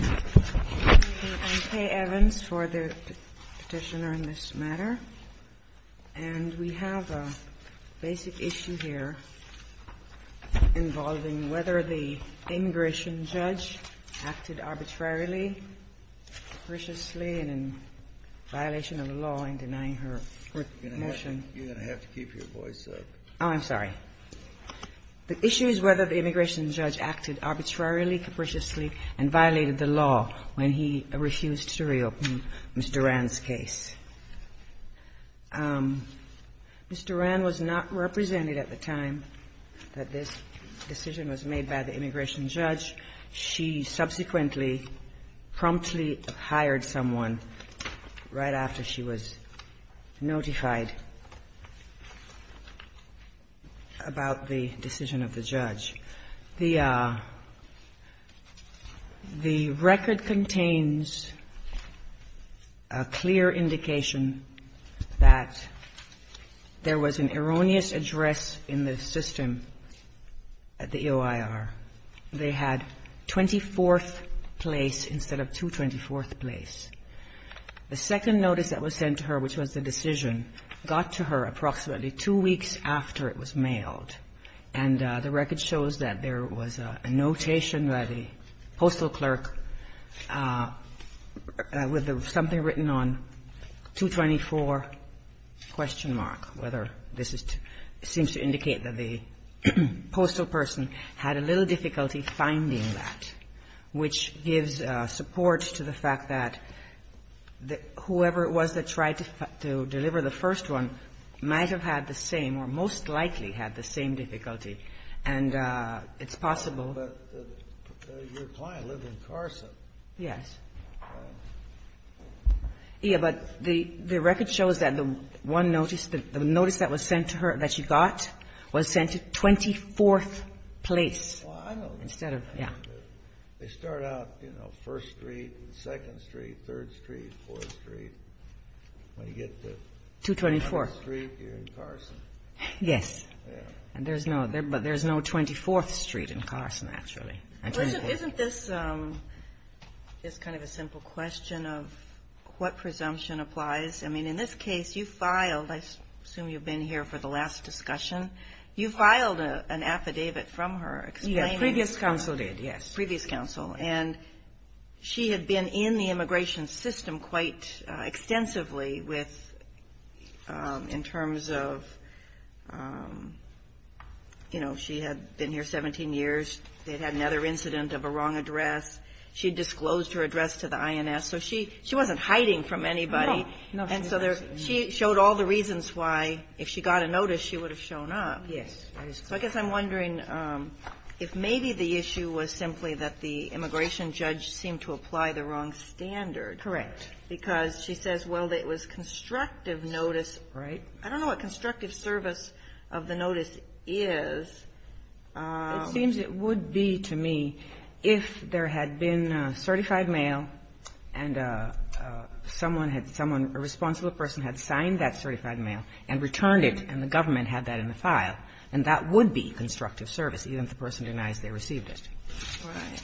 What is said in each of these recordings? I'm Kay Evans for the petitioner in this matter. And we have a basic issue here involving whether the immigration judge acted arbitrarily, periciously, and in violation of the law in denying her motion. You're going to have to keep your voice up. Oh, I'm sorry. The issue is whether the immigration judge acted arbitrarily, periciously, and violated the law when he refused to reopen Mr. Rand's case. Ms. Duran was not represented at the time that this decision was made by the immigration judge. She subsequently promptly hired someone right after she was notified about the decision of the judge. The record contains a clear indication that there was an erroneous address in the system at the EOIR. They had 24th place instead of 224th place. The second notice that was sent to her, which was the decision, got to her approximately two weeks after it was mailed. And the record shows that there was a notation by the postal clerk with something written on 224 question mark, whether this seems to indicate that the postal person had a little difficulty finding that, which gives support to the fact that whoever it was that tried to deliver the first one might have had the same or most likely had the same difficulty. And it's possible. But your client lived in Carson. Yes. Yes. But the record shows that the one notice, the notice that was sent to her, that she got, was sent to 24th place instead of, yes. They start out, you know, 1st Street, 2nd Street, 3rd Street, 4th Street. When you get to the other street, you're in Carson. Yes. Yes. But there's no 24th Street in Carson, actually. Isn't this kind of a simple question of what presumption applies? I mean, in this case, you filed, I assume you've been here for the last discussion, you filed an affidavit from her explaining. Yes. Previous counsel did, yes. Previous counsel. And she had been in the immigration system quite extensively with, in terms of, you know, she had been here 17 years. They'd had another incident of a wrong address. She disclosed her address to the INS. So she wasn't hiding from anybody. No. No. And so she showed all the reasons why, if she got a notice, she would have shown Yes. So I guess I'm wondering if maybe the issue was simply that the immigration judge seemed to apply the wrong standard. Correct. Because she says, well, it was constructive notice. Right. I don't know what constructive service of the notice is. It seems it would be, to me, if there had been certified mail and someone had, someone, a responsible person had signed that certified mail and returned it and the that would be constructive service, even if the person denies they received it. Right.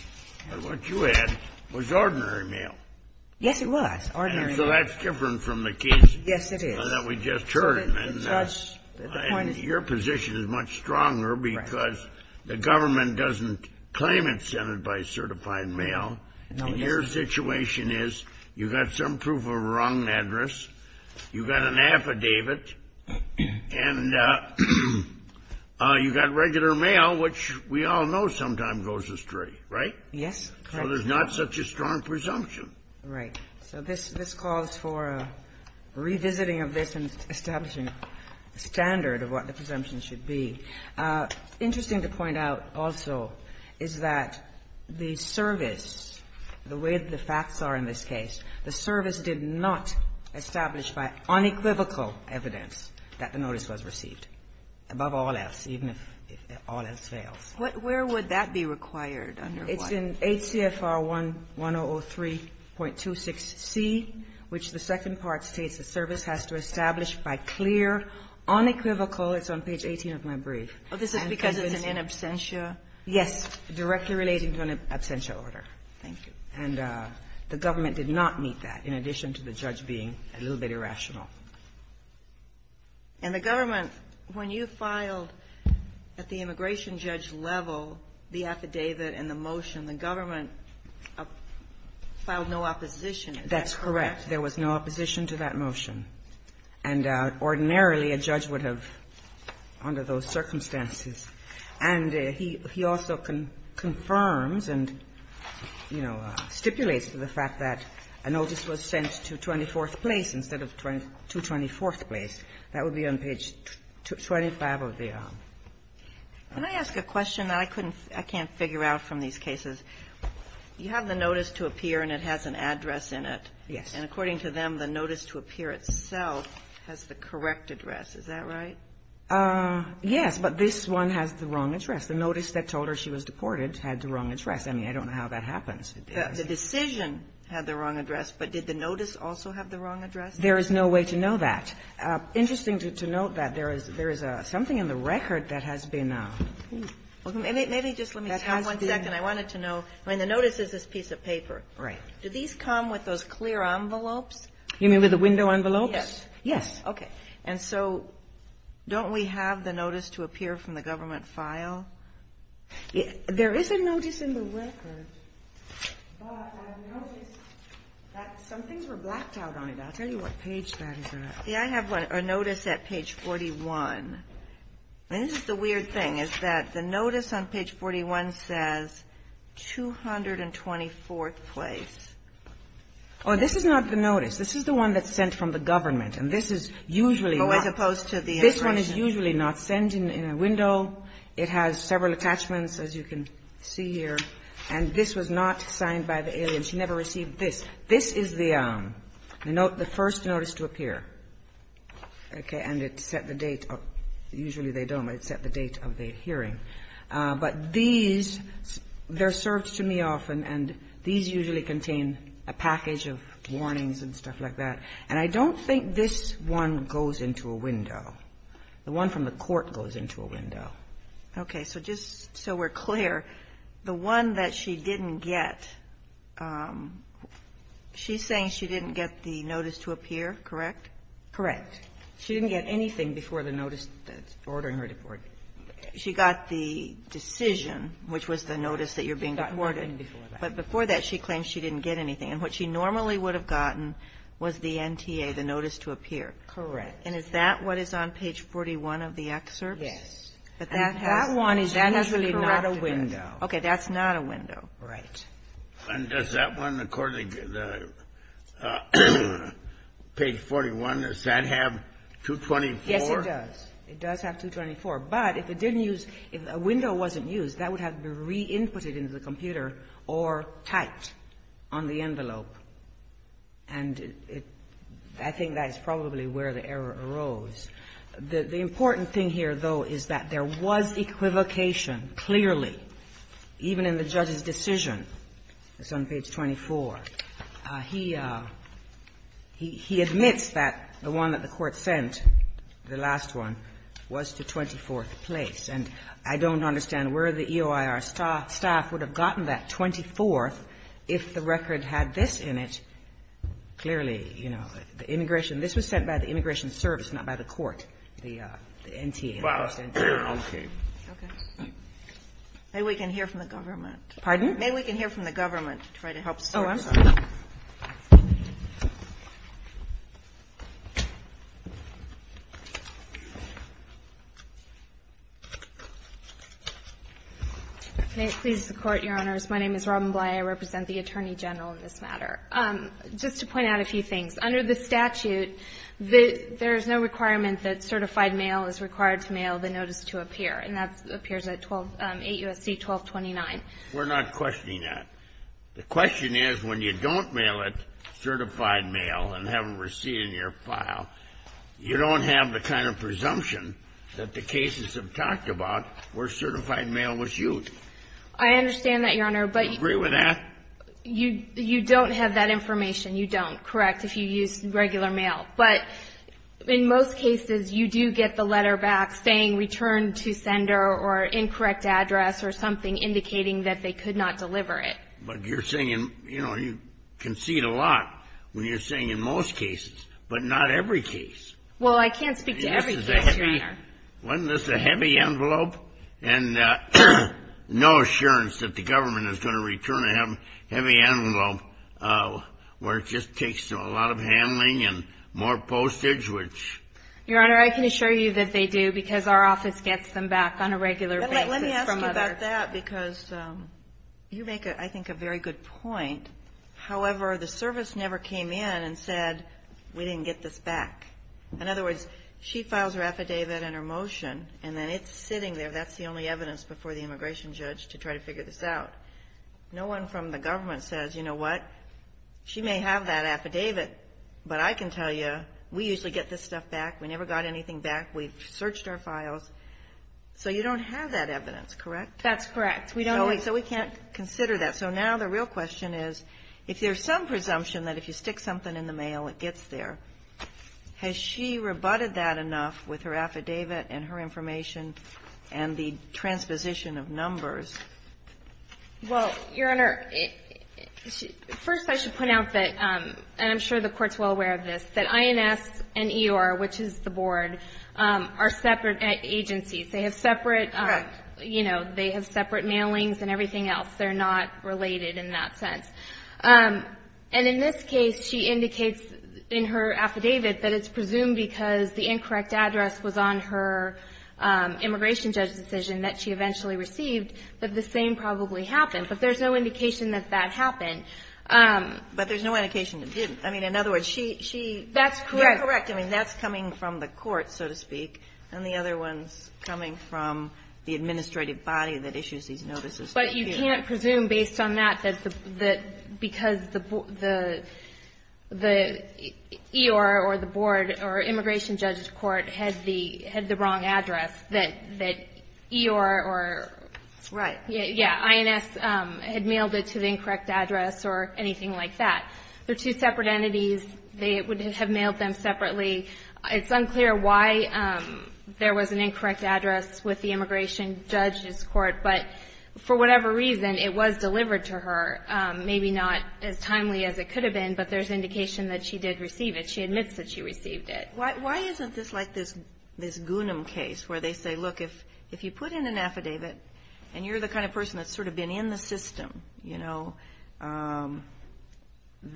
But what you had was ordinary mail. Yes, it was. Ordinary mail. And so that's different from the case that we just heard. Yes, it is. And your position is much stronger because the government doesn't claim it's sent by certified mail. No, it doesn't. And your situation is you've got some proof of a wrong address, you've got an affidavit, and you've got regular mail, which we all know sometimes goes astray, right? Yes. So there's not such a strong presumption. Right. So this calls for a revisiting of this and establishing a standard of what the presumption should be. Interesting to point out also is that the service, the way the facts are in this was received, above all else, even if all else fails. Where would that be required under what? It's in HCFR 1003.26c, which the second part states the service has to establish by clear, unequivocal, it's on page 18 of my brief. Oh, this is because it's an in absentia? Yes, directly relating to an absentia order. Thank you. And the government did not meet that, in addition to the judge being a little bit irrational. And the government, when you filed at the immigration judge level the affidavit and the motion, the government filed no opposition? That's correct. There was no opposition to that motion. And ordinarily, a judge would have, under those circumstances. And he also confirms and, you know, stipulates the fact that a notice was sent to 24th Place instead of 224th Place. That would be on page 25 of the. Can I ask a question? I couldn't, I can't figure out from these cases. You have the notice to appear, and it has an address in it. Yes. And according to them, the notice to appear itself has the correct address. Is that right? Yes. But this one has the wrong address. The notice that told her she was deported had the wrong address. I mean, I don't know how that happens. The decision had the wrong address, but did the notice also have the wrong address? There is no way to know that. Interesting to note that there is something in the record that has been. Maybe just let me stop one second. I wanted to know, I mean, the notice is this piece of paper. Right. Do these come with those clear envelopes? You mean with the window envelopes? Yes. Yes. Okay. And so don't we have the notice to appear from the government file? There is a notice in the record. But I've noticed that some things were blacked out on it. I'll tell you what page that is on. See, I have a notice at page 41. And this is the weird thing is that the notice on page 41 says 224th place. Oh, this is not the notice. This is the one that's sent from the government, and this is usually not. Oh, as opposed to the information. This one is usually not sent in a window. It has several attachments, as you can see here. And this was not signed by the alien. She never received this. This is the first notice to appear. Okay. And it set the date. Usually they don't, but it set the date of the hearing. But these, they're served to me often, and these usually contain a package of warnings and stuff like that. And I don't think this one goes into a window. The one from the court goes into a window. Okay. So just so we're clear, the one that she didn't get, she's saying she didn't get the notice to appear, correct? Correct. She didn't get anything before the notice that's ordering her deportation. She got the decision, which was the notice that you're being deported. She got nothing before that. But before that, she claims she didn't get anything. And what she normally would have gotten was the NTA, the notice to appear. Correct. And is that what is on page 41 of the excerpt? Yes. That one is actually not a window. Okay. That's not a window. Right. And does that one, according to page 41, does that have 224? Yes, it does. It does have 224. But if it didn't use, if a window wasn't used, that would have to be re-inputted into the computer or typed on the envelope. And I think that is probably where the error arose. The important thing here, though, is that there was equivocation, clearly, even in the judge's decision that's on page 24. He admits that the one that the Court sent, the last one, was to 24th place. And I don't understand where the EOIR staff would have gotten that 24th if the record had this in it. Clearly, you know, the immigration, this was sent by the Immigration Service, not by the Court. The NTA. Okay. Okay. Maybe we can hear from the government. Pardon? Maybe we can hear from the government to try to help sort this out. Oh, I'm sorry. May it please the Court, Your Honors. My name is Robin Bly. I represent the Attorney General in this matter. Just to point out a few things. Under the statute, there is no requirement that certified mail is required to mail the notice to a peer. And that appears at 8 U.S.C. 1229. We're not questioning that. The question is, when you don't mail it, certified mail, and have it received in your file, you don't have the kind of presumption that the cases have talked about where certified mail was used. You have that information. You don't, correct, if you use regular mail. But in most cases, you do get the letter back saying, return to sender, or incorrect address, or something indicating that they could not deliver it. But you're saying, you know, you concede a lot when you're saying in most cases, but not every case. Well, I can't speak to every case, Your Honor. Wasn't this a heavy envelope? And no assurance that the government is going to return a heavy envelope where it just takes a lot of handling and more postage, which. Your Honor, I can assure you that they do, because our office gets them back on a regular basis from others. Let me ask you about that, because you make, I think, a very good point. However, the service never came in and said, we didn't get this back. In other words, she files her affidavit and her motion, and then it's sitting there. That's the only evidence before the immigration judge to try to figure this out. No one from the government says, you know what, she may have that affidavit, but I can tell you, we usually get this stuff back. We never got anything back. We've searched our files. So you don't have that evidence, correct? That's correct. We don't. So we can't consider that. So now the real question is, if there's some presumption that if you stick something in the mail, it gets there, has she rebutted that enough with her affidavit and her information and the transposition of numbers? Well, Your Honor, first I should point out that, and I'm sure the Court's well aware of this, that INS and EOR, which is the board, are separate agencies. They have separate, you know, they have separate mailings and everything else. They're not related in that sense. And in this case, she indicates in her affidavit that it's presumed because the incorrect address was on her immigration judge's decision that she eventually received that the same probably happened. But there's no indication that that happened. But there's no indication it didn't. I mean, in other words, she --- That's correct. You're correct. I mean, that's coming from the court, so to speak, and the other one's coming from the administrative body that issues these notices. But you can't presume based on that that because the EOR or the board or immigration judge's court had the wrong address that EOR or INS had mailed it to the incorrect address or anything like that. They're two separate entities. They would have mailed them separately. It's unclear why there was an incorrect address with the immigration judge's For whatever reason, it was delivered to her. Maybe not as timely as it could have been, but there's indication that she did receive it. She admits that she received it. Why isn't this like this Gunam case where they say, look, if you put in an affidavit and you're the kind of person that's sort of been in the system, you know,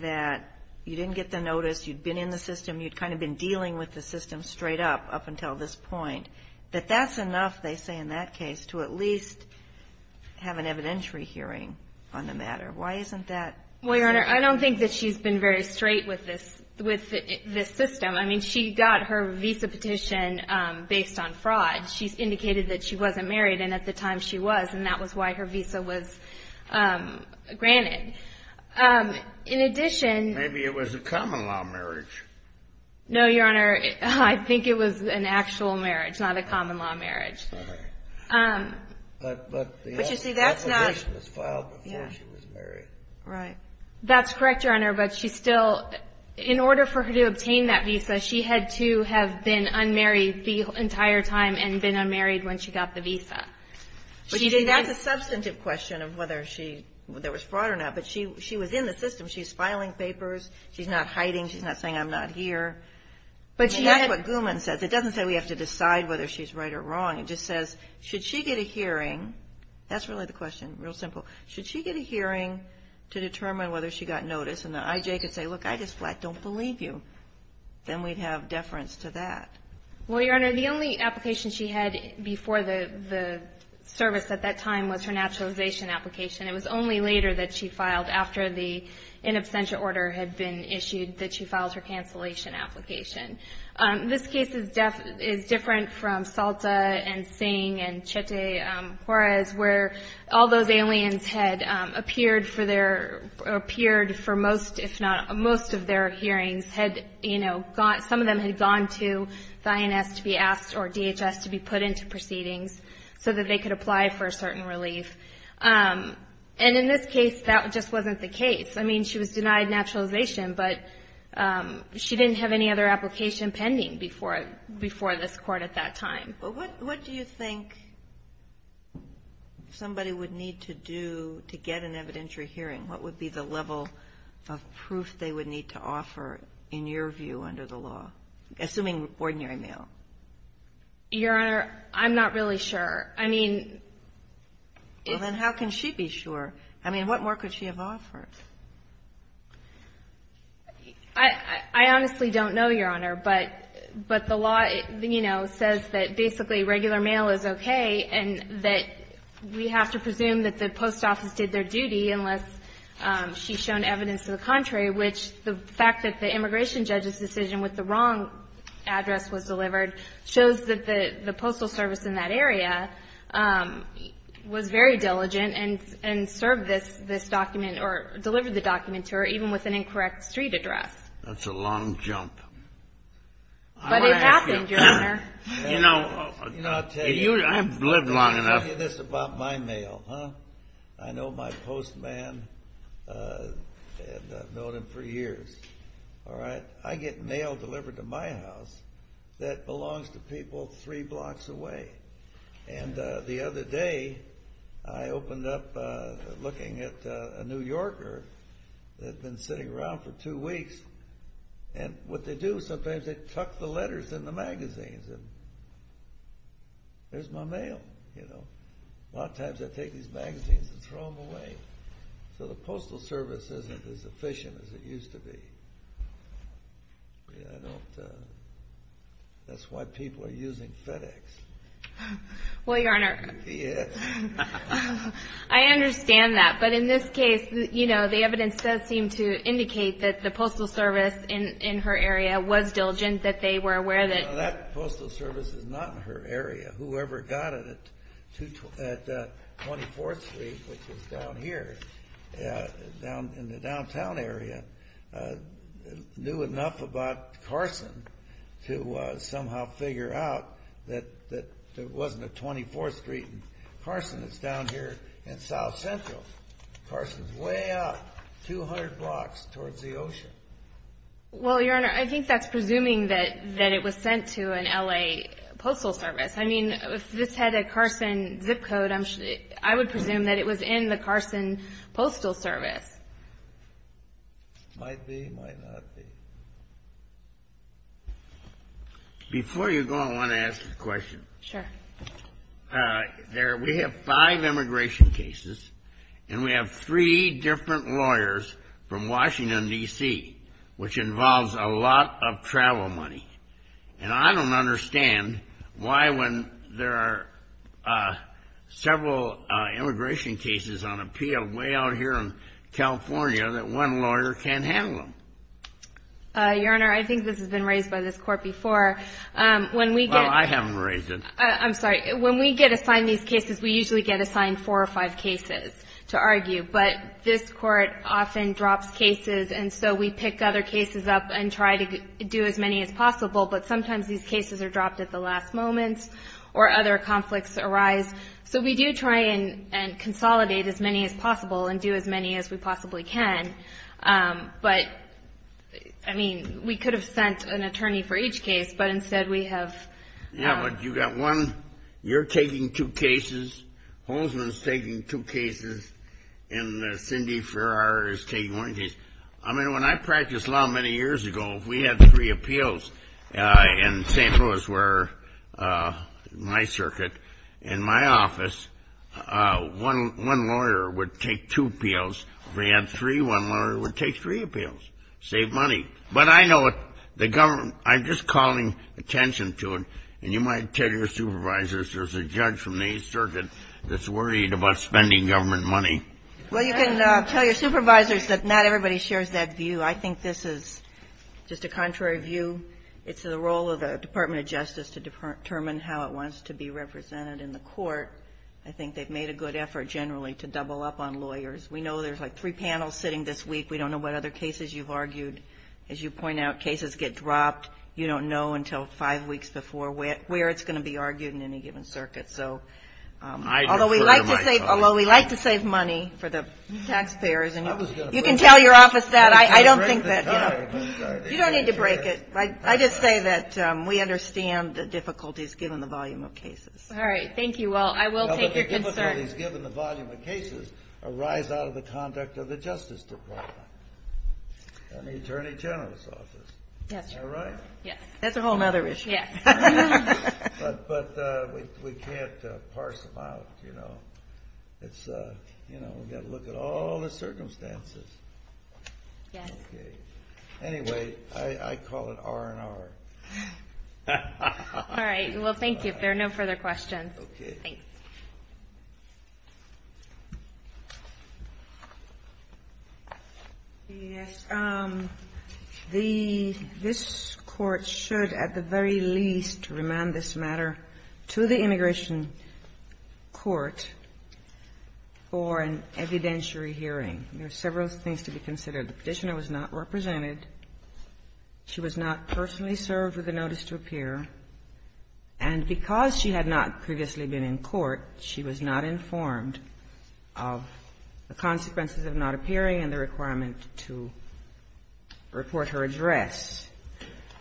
that you didn't get the notice, you'd been in the system, you'd kind of been dealing with the system straight up up until this point, that that's enough, they say, in that case to at least have an evidentiary hearing on the matter. Why isn't that? Well, Your Honor, I don't think that she's been very straight with this system. I mean, she got her visa petition based on fraud. She indicated that she wasn't married, and at the time she was, and that was why her visa was granted. In addition — Maybe it was a common-law marriage. No, Your Honor, I think it was an actual marriage, not a common-law marriage. But the application was filed before she was married. Right. That's correct, Your Honor, but she still, in order for her to obtain that visa, she had to have been unmarried the entire time and been unmarried when she got the visa. That's a substantive question of whether there was fraud or not, but she was in the system. She's filing papers. She's not hiding. She's not saying, I'm not here. And that's what Gunam says. But it doesn't say we have to decide whether she's right or wrong. It just says, should she get a hearing? That's really the question, real simple. Should she get a hearing to determine whether she got notice? And the IJ could say, look, I just flat don't believe you. Then we'd have deference to that. Well, Your Honor, the only application she had before the service at that time was her naturalization application. It was only later that she filed after the in absentia order had been issued that she filed her cancellation application. This case is different from Salta and Singh and Chete Juarez, where all those aliens had appeared for most if not most of their hearings, had, you know, some of them had gone to the INS to be asked or DHS to be put into proceedings so that they could apply for a certain relief. And in this case, that just wasn't the case. I mean, she was denied naturalization, but she didn't have any other application pending before this Court at that time. But what do you think somebody would need to do to get an evidentiary hearing? What would be the level of proof they would need to offer in your view under the law, assuming ordinary male? Your Honor, I'm not really sure. I mean — Well, then how can she be sure? I mean, what more could she have offered? I honestly don't know, Your Honor, but the law, you know, says that basically regular male is okay and that we have to presume that the post office did their duty unless she's shown evidence to the contrary, which the fact that the immigration judge's decision with the wrong address was delivered shows that the postal service in that area was very diligent and served this document or delivered the document to her even with an incorrect street address. That's a long jump. But it happened, Your Honor. You know, I'll tell you this about my male. I know my postman, and I've known him for years. I get mail delivered to my house that belongs to people three blocks away. And the other day I opened up looking at a New Yorker that had been sitting around for two weeks, and what they do sometimes is they tuck the letters in the magazines. There's my mail, you know. A lot of times I take these magazines and throw them away. So the postal service isn't as efficient as it used to be. That's why people are using FedEx. Well, Your Honor, I understand that, but in this case, you know, the evidence does seem to indicate that the postal service in her area was diligent, that they were aware that. That postal service is not in her area. Whoever got it at 24th Street, which is down here in the downtown area, knew enough about Carson to somehow figure out that there wasn't a 24th Street in Carson. It's down here in South Central. Carson's way up 200 blocks towards the ocean. Well, Your Honor, I think that's presuming that it was sent to an L.A. postal service. I mean, if this had a Carson zip code, I would presume that it was in the Carson postal service. Might be, might not be. Before you go, I want to ask a question. Sure. We have five immigration cases, and we have three different lawyers from Washington, D.C., which involves a lot of travel money. And I don't understand why when there are several immigration cases on appeal way out here in California that one lawyer can't handle them. Your Honor, I think this has been raised by this Court before. Well, I haven't raised it. I'm sorry. When we get assigned these cases, we usually get assigned four or five cases to argue. But this Court often drops cases, and so we pick other cases up and try to do as many as possible. But sometimes these cases are dropped at the last moment or other conflicts arise. So we do try and consolidate as many as possible and do as many as we possibly can. But, I mean, we could have sent an attorney for each case, but instead we have one. Yeah, but you got one. You're taking two cases. Holtzman's taking two cases, and Cindy Farrar is taking one case. I mean, when I practiced law many years ago, if we had three appeals in St. Louis where my circuit and my office, one lawyer would take two appeals. If we had three, one lawyer would take three appeals, save money. But I know the government, I'm just calling attention to it. And you might tell your supervisors there's a judge from the Eighth Circuit that's worried about spending government money. Well, you can tell your supervisors that not everybody shares that view. I think this is just a contrary view. It's the role of the Department of Justice to determine how it wants to be represented in the court. I think they've made a good effort generally to double up on lawyers. We know there's like three panels sitting this week. We don't know what other cases you've argued. As you point out, cases get dropped. You don't know until five weeks before where it's going to be argued in any given circuit. Although we like to save money for the taxpayers. You can tell your office that. You don't need to break it. I just say that we understand the difficulties given the volume of cases. All right. Thank you all. I will take your concerns. The difficulties given the volume of cases arise out of the conduct of the Justice Department and the Attorney General's Office. That's a whole other issue. But we can't parse them out. We've got to look at all the circumstances. Anyway, I call it R&R. All right. Well, thank you. If there are no further questions. Okay. Thank you. Thank you. Ms. Kagan. Yes. This Court should at the very least remand this matter to the Immigration Court for an evidentiary hearing. There are several things to be considered. The Petitioner was not represented. She was not personally served with a notice to appear. And because she had not previously been in court, she was not informed of the consequences of not appearing and the requirement to report her address.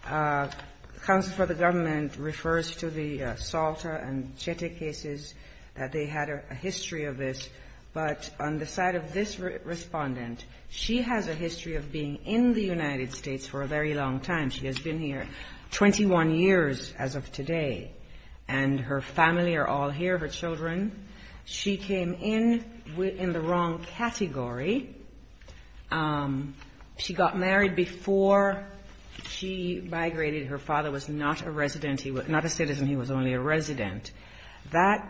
Counsel for the Government refers to the Salta and Chete cases, that they had a history of this. But on the side of this Respondent, she has a history of being in the United States for a very long time. She has been here 21 years as of today. And her family are all here, her children. She came in in the wrong category. She got married before she migrated. Her father was not a resident. He was not a citizen. He was only a resident. I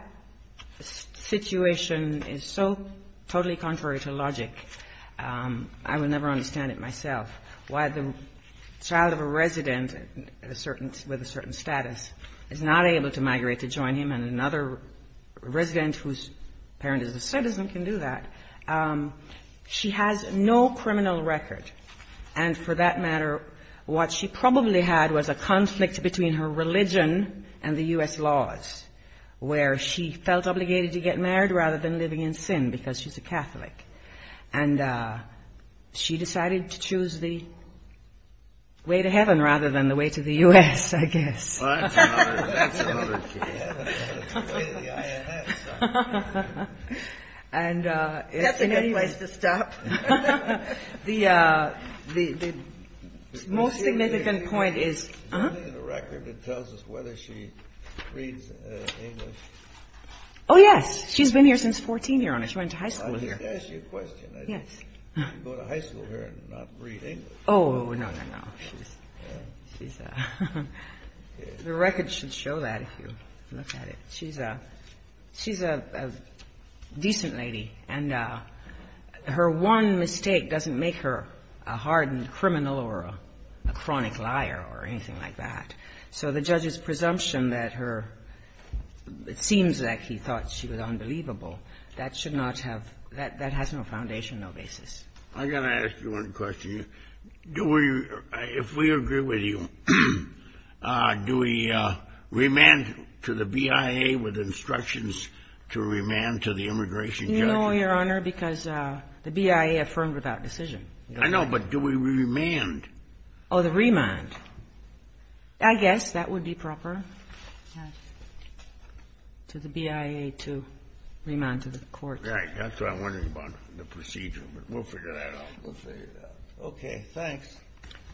will never understand it myself. Why the child of a resident with a certain status is not able to migrate to join him and another resident whose parent is a citizen can do that. She has no criminal record. And for that matter, what she probably had was a conflict between her religion and the U.S. laws, where she felt obligated to get married rather than living in sin because she's a Catholic. And she decided to choose the way to heaven rather than the way to the U.S., I guess. That's a good place to stop. The most significant point is... Is there anything in the record that tells us whether she reads English? Oh, yes. She's been here since 14, Your Honor. She went to high school here. Let me ask you a question. Yes. Did she go to high school here and not read English? Oh, no, no, no. The record should show that if you look at it. She's a decent lady. And her one mistake doesn't make her a hardened criminal or a chronic liar or anything like that. So the judge's presumption that her, it seems like he thought she was unbelievable, that should not have, that has no foundation, no basis. I got to ask you one question. Do we, if we agree with you, do we remand to the BIA with instructions to remand to the immigration judge? You know, Your Honor, because the BIA affirmed without decision. I know, but do we remand? Oh, the remand. I guess that would be proper to the BIA to remand to the court. Right. That's what I'm wondering about, the procedure. But we'll figure that out. We'll figure it out. Okay. Thanks.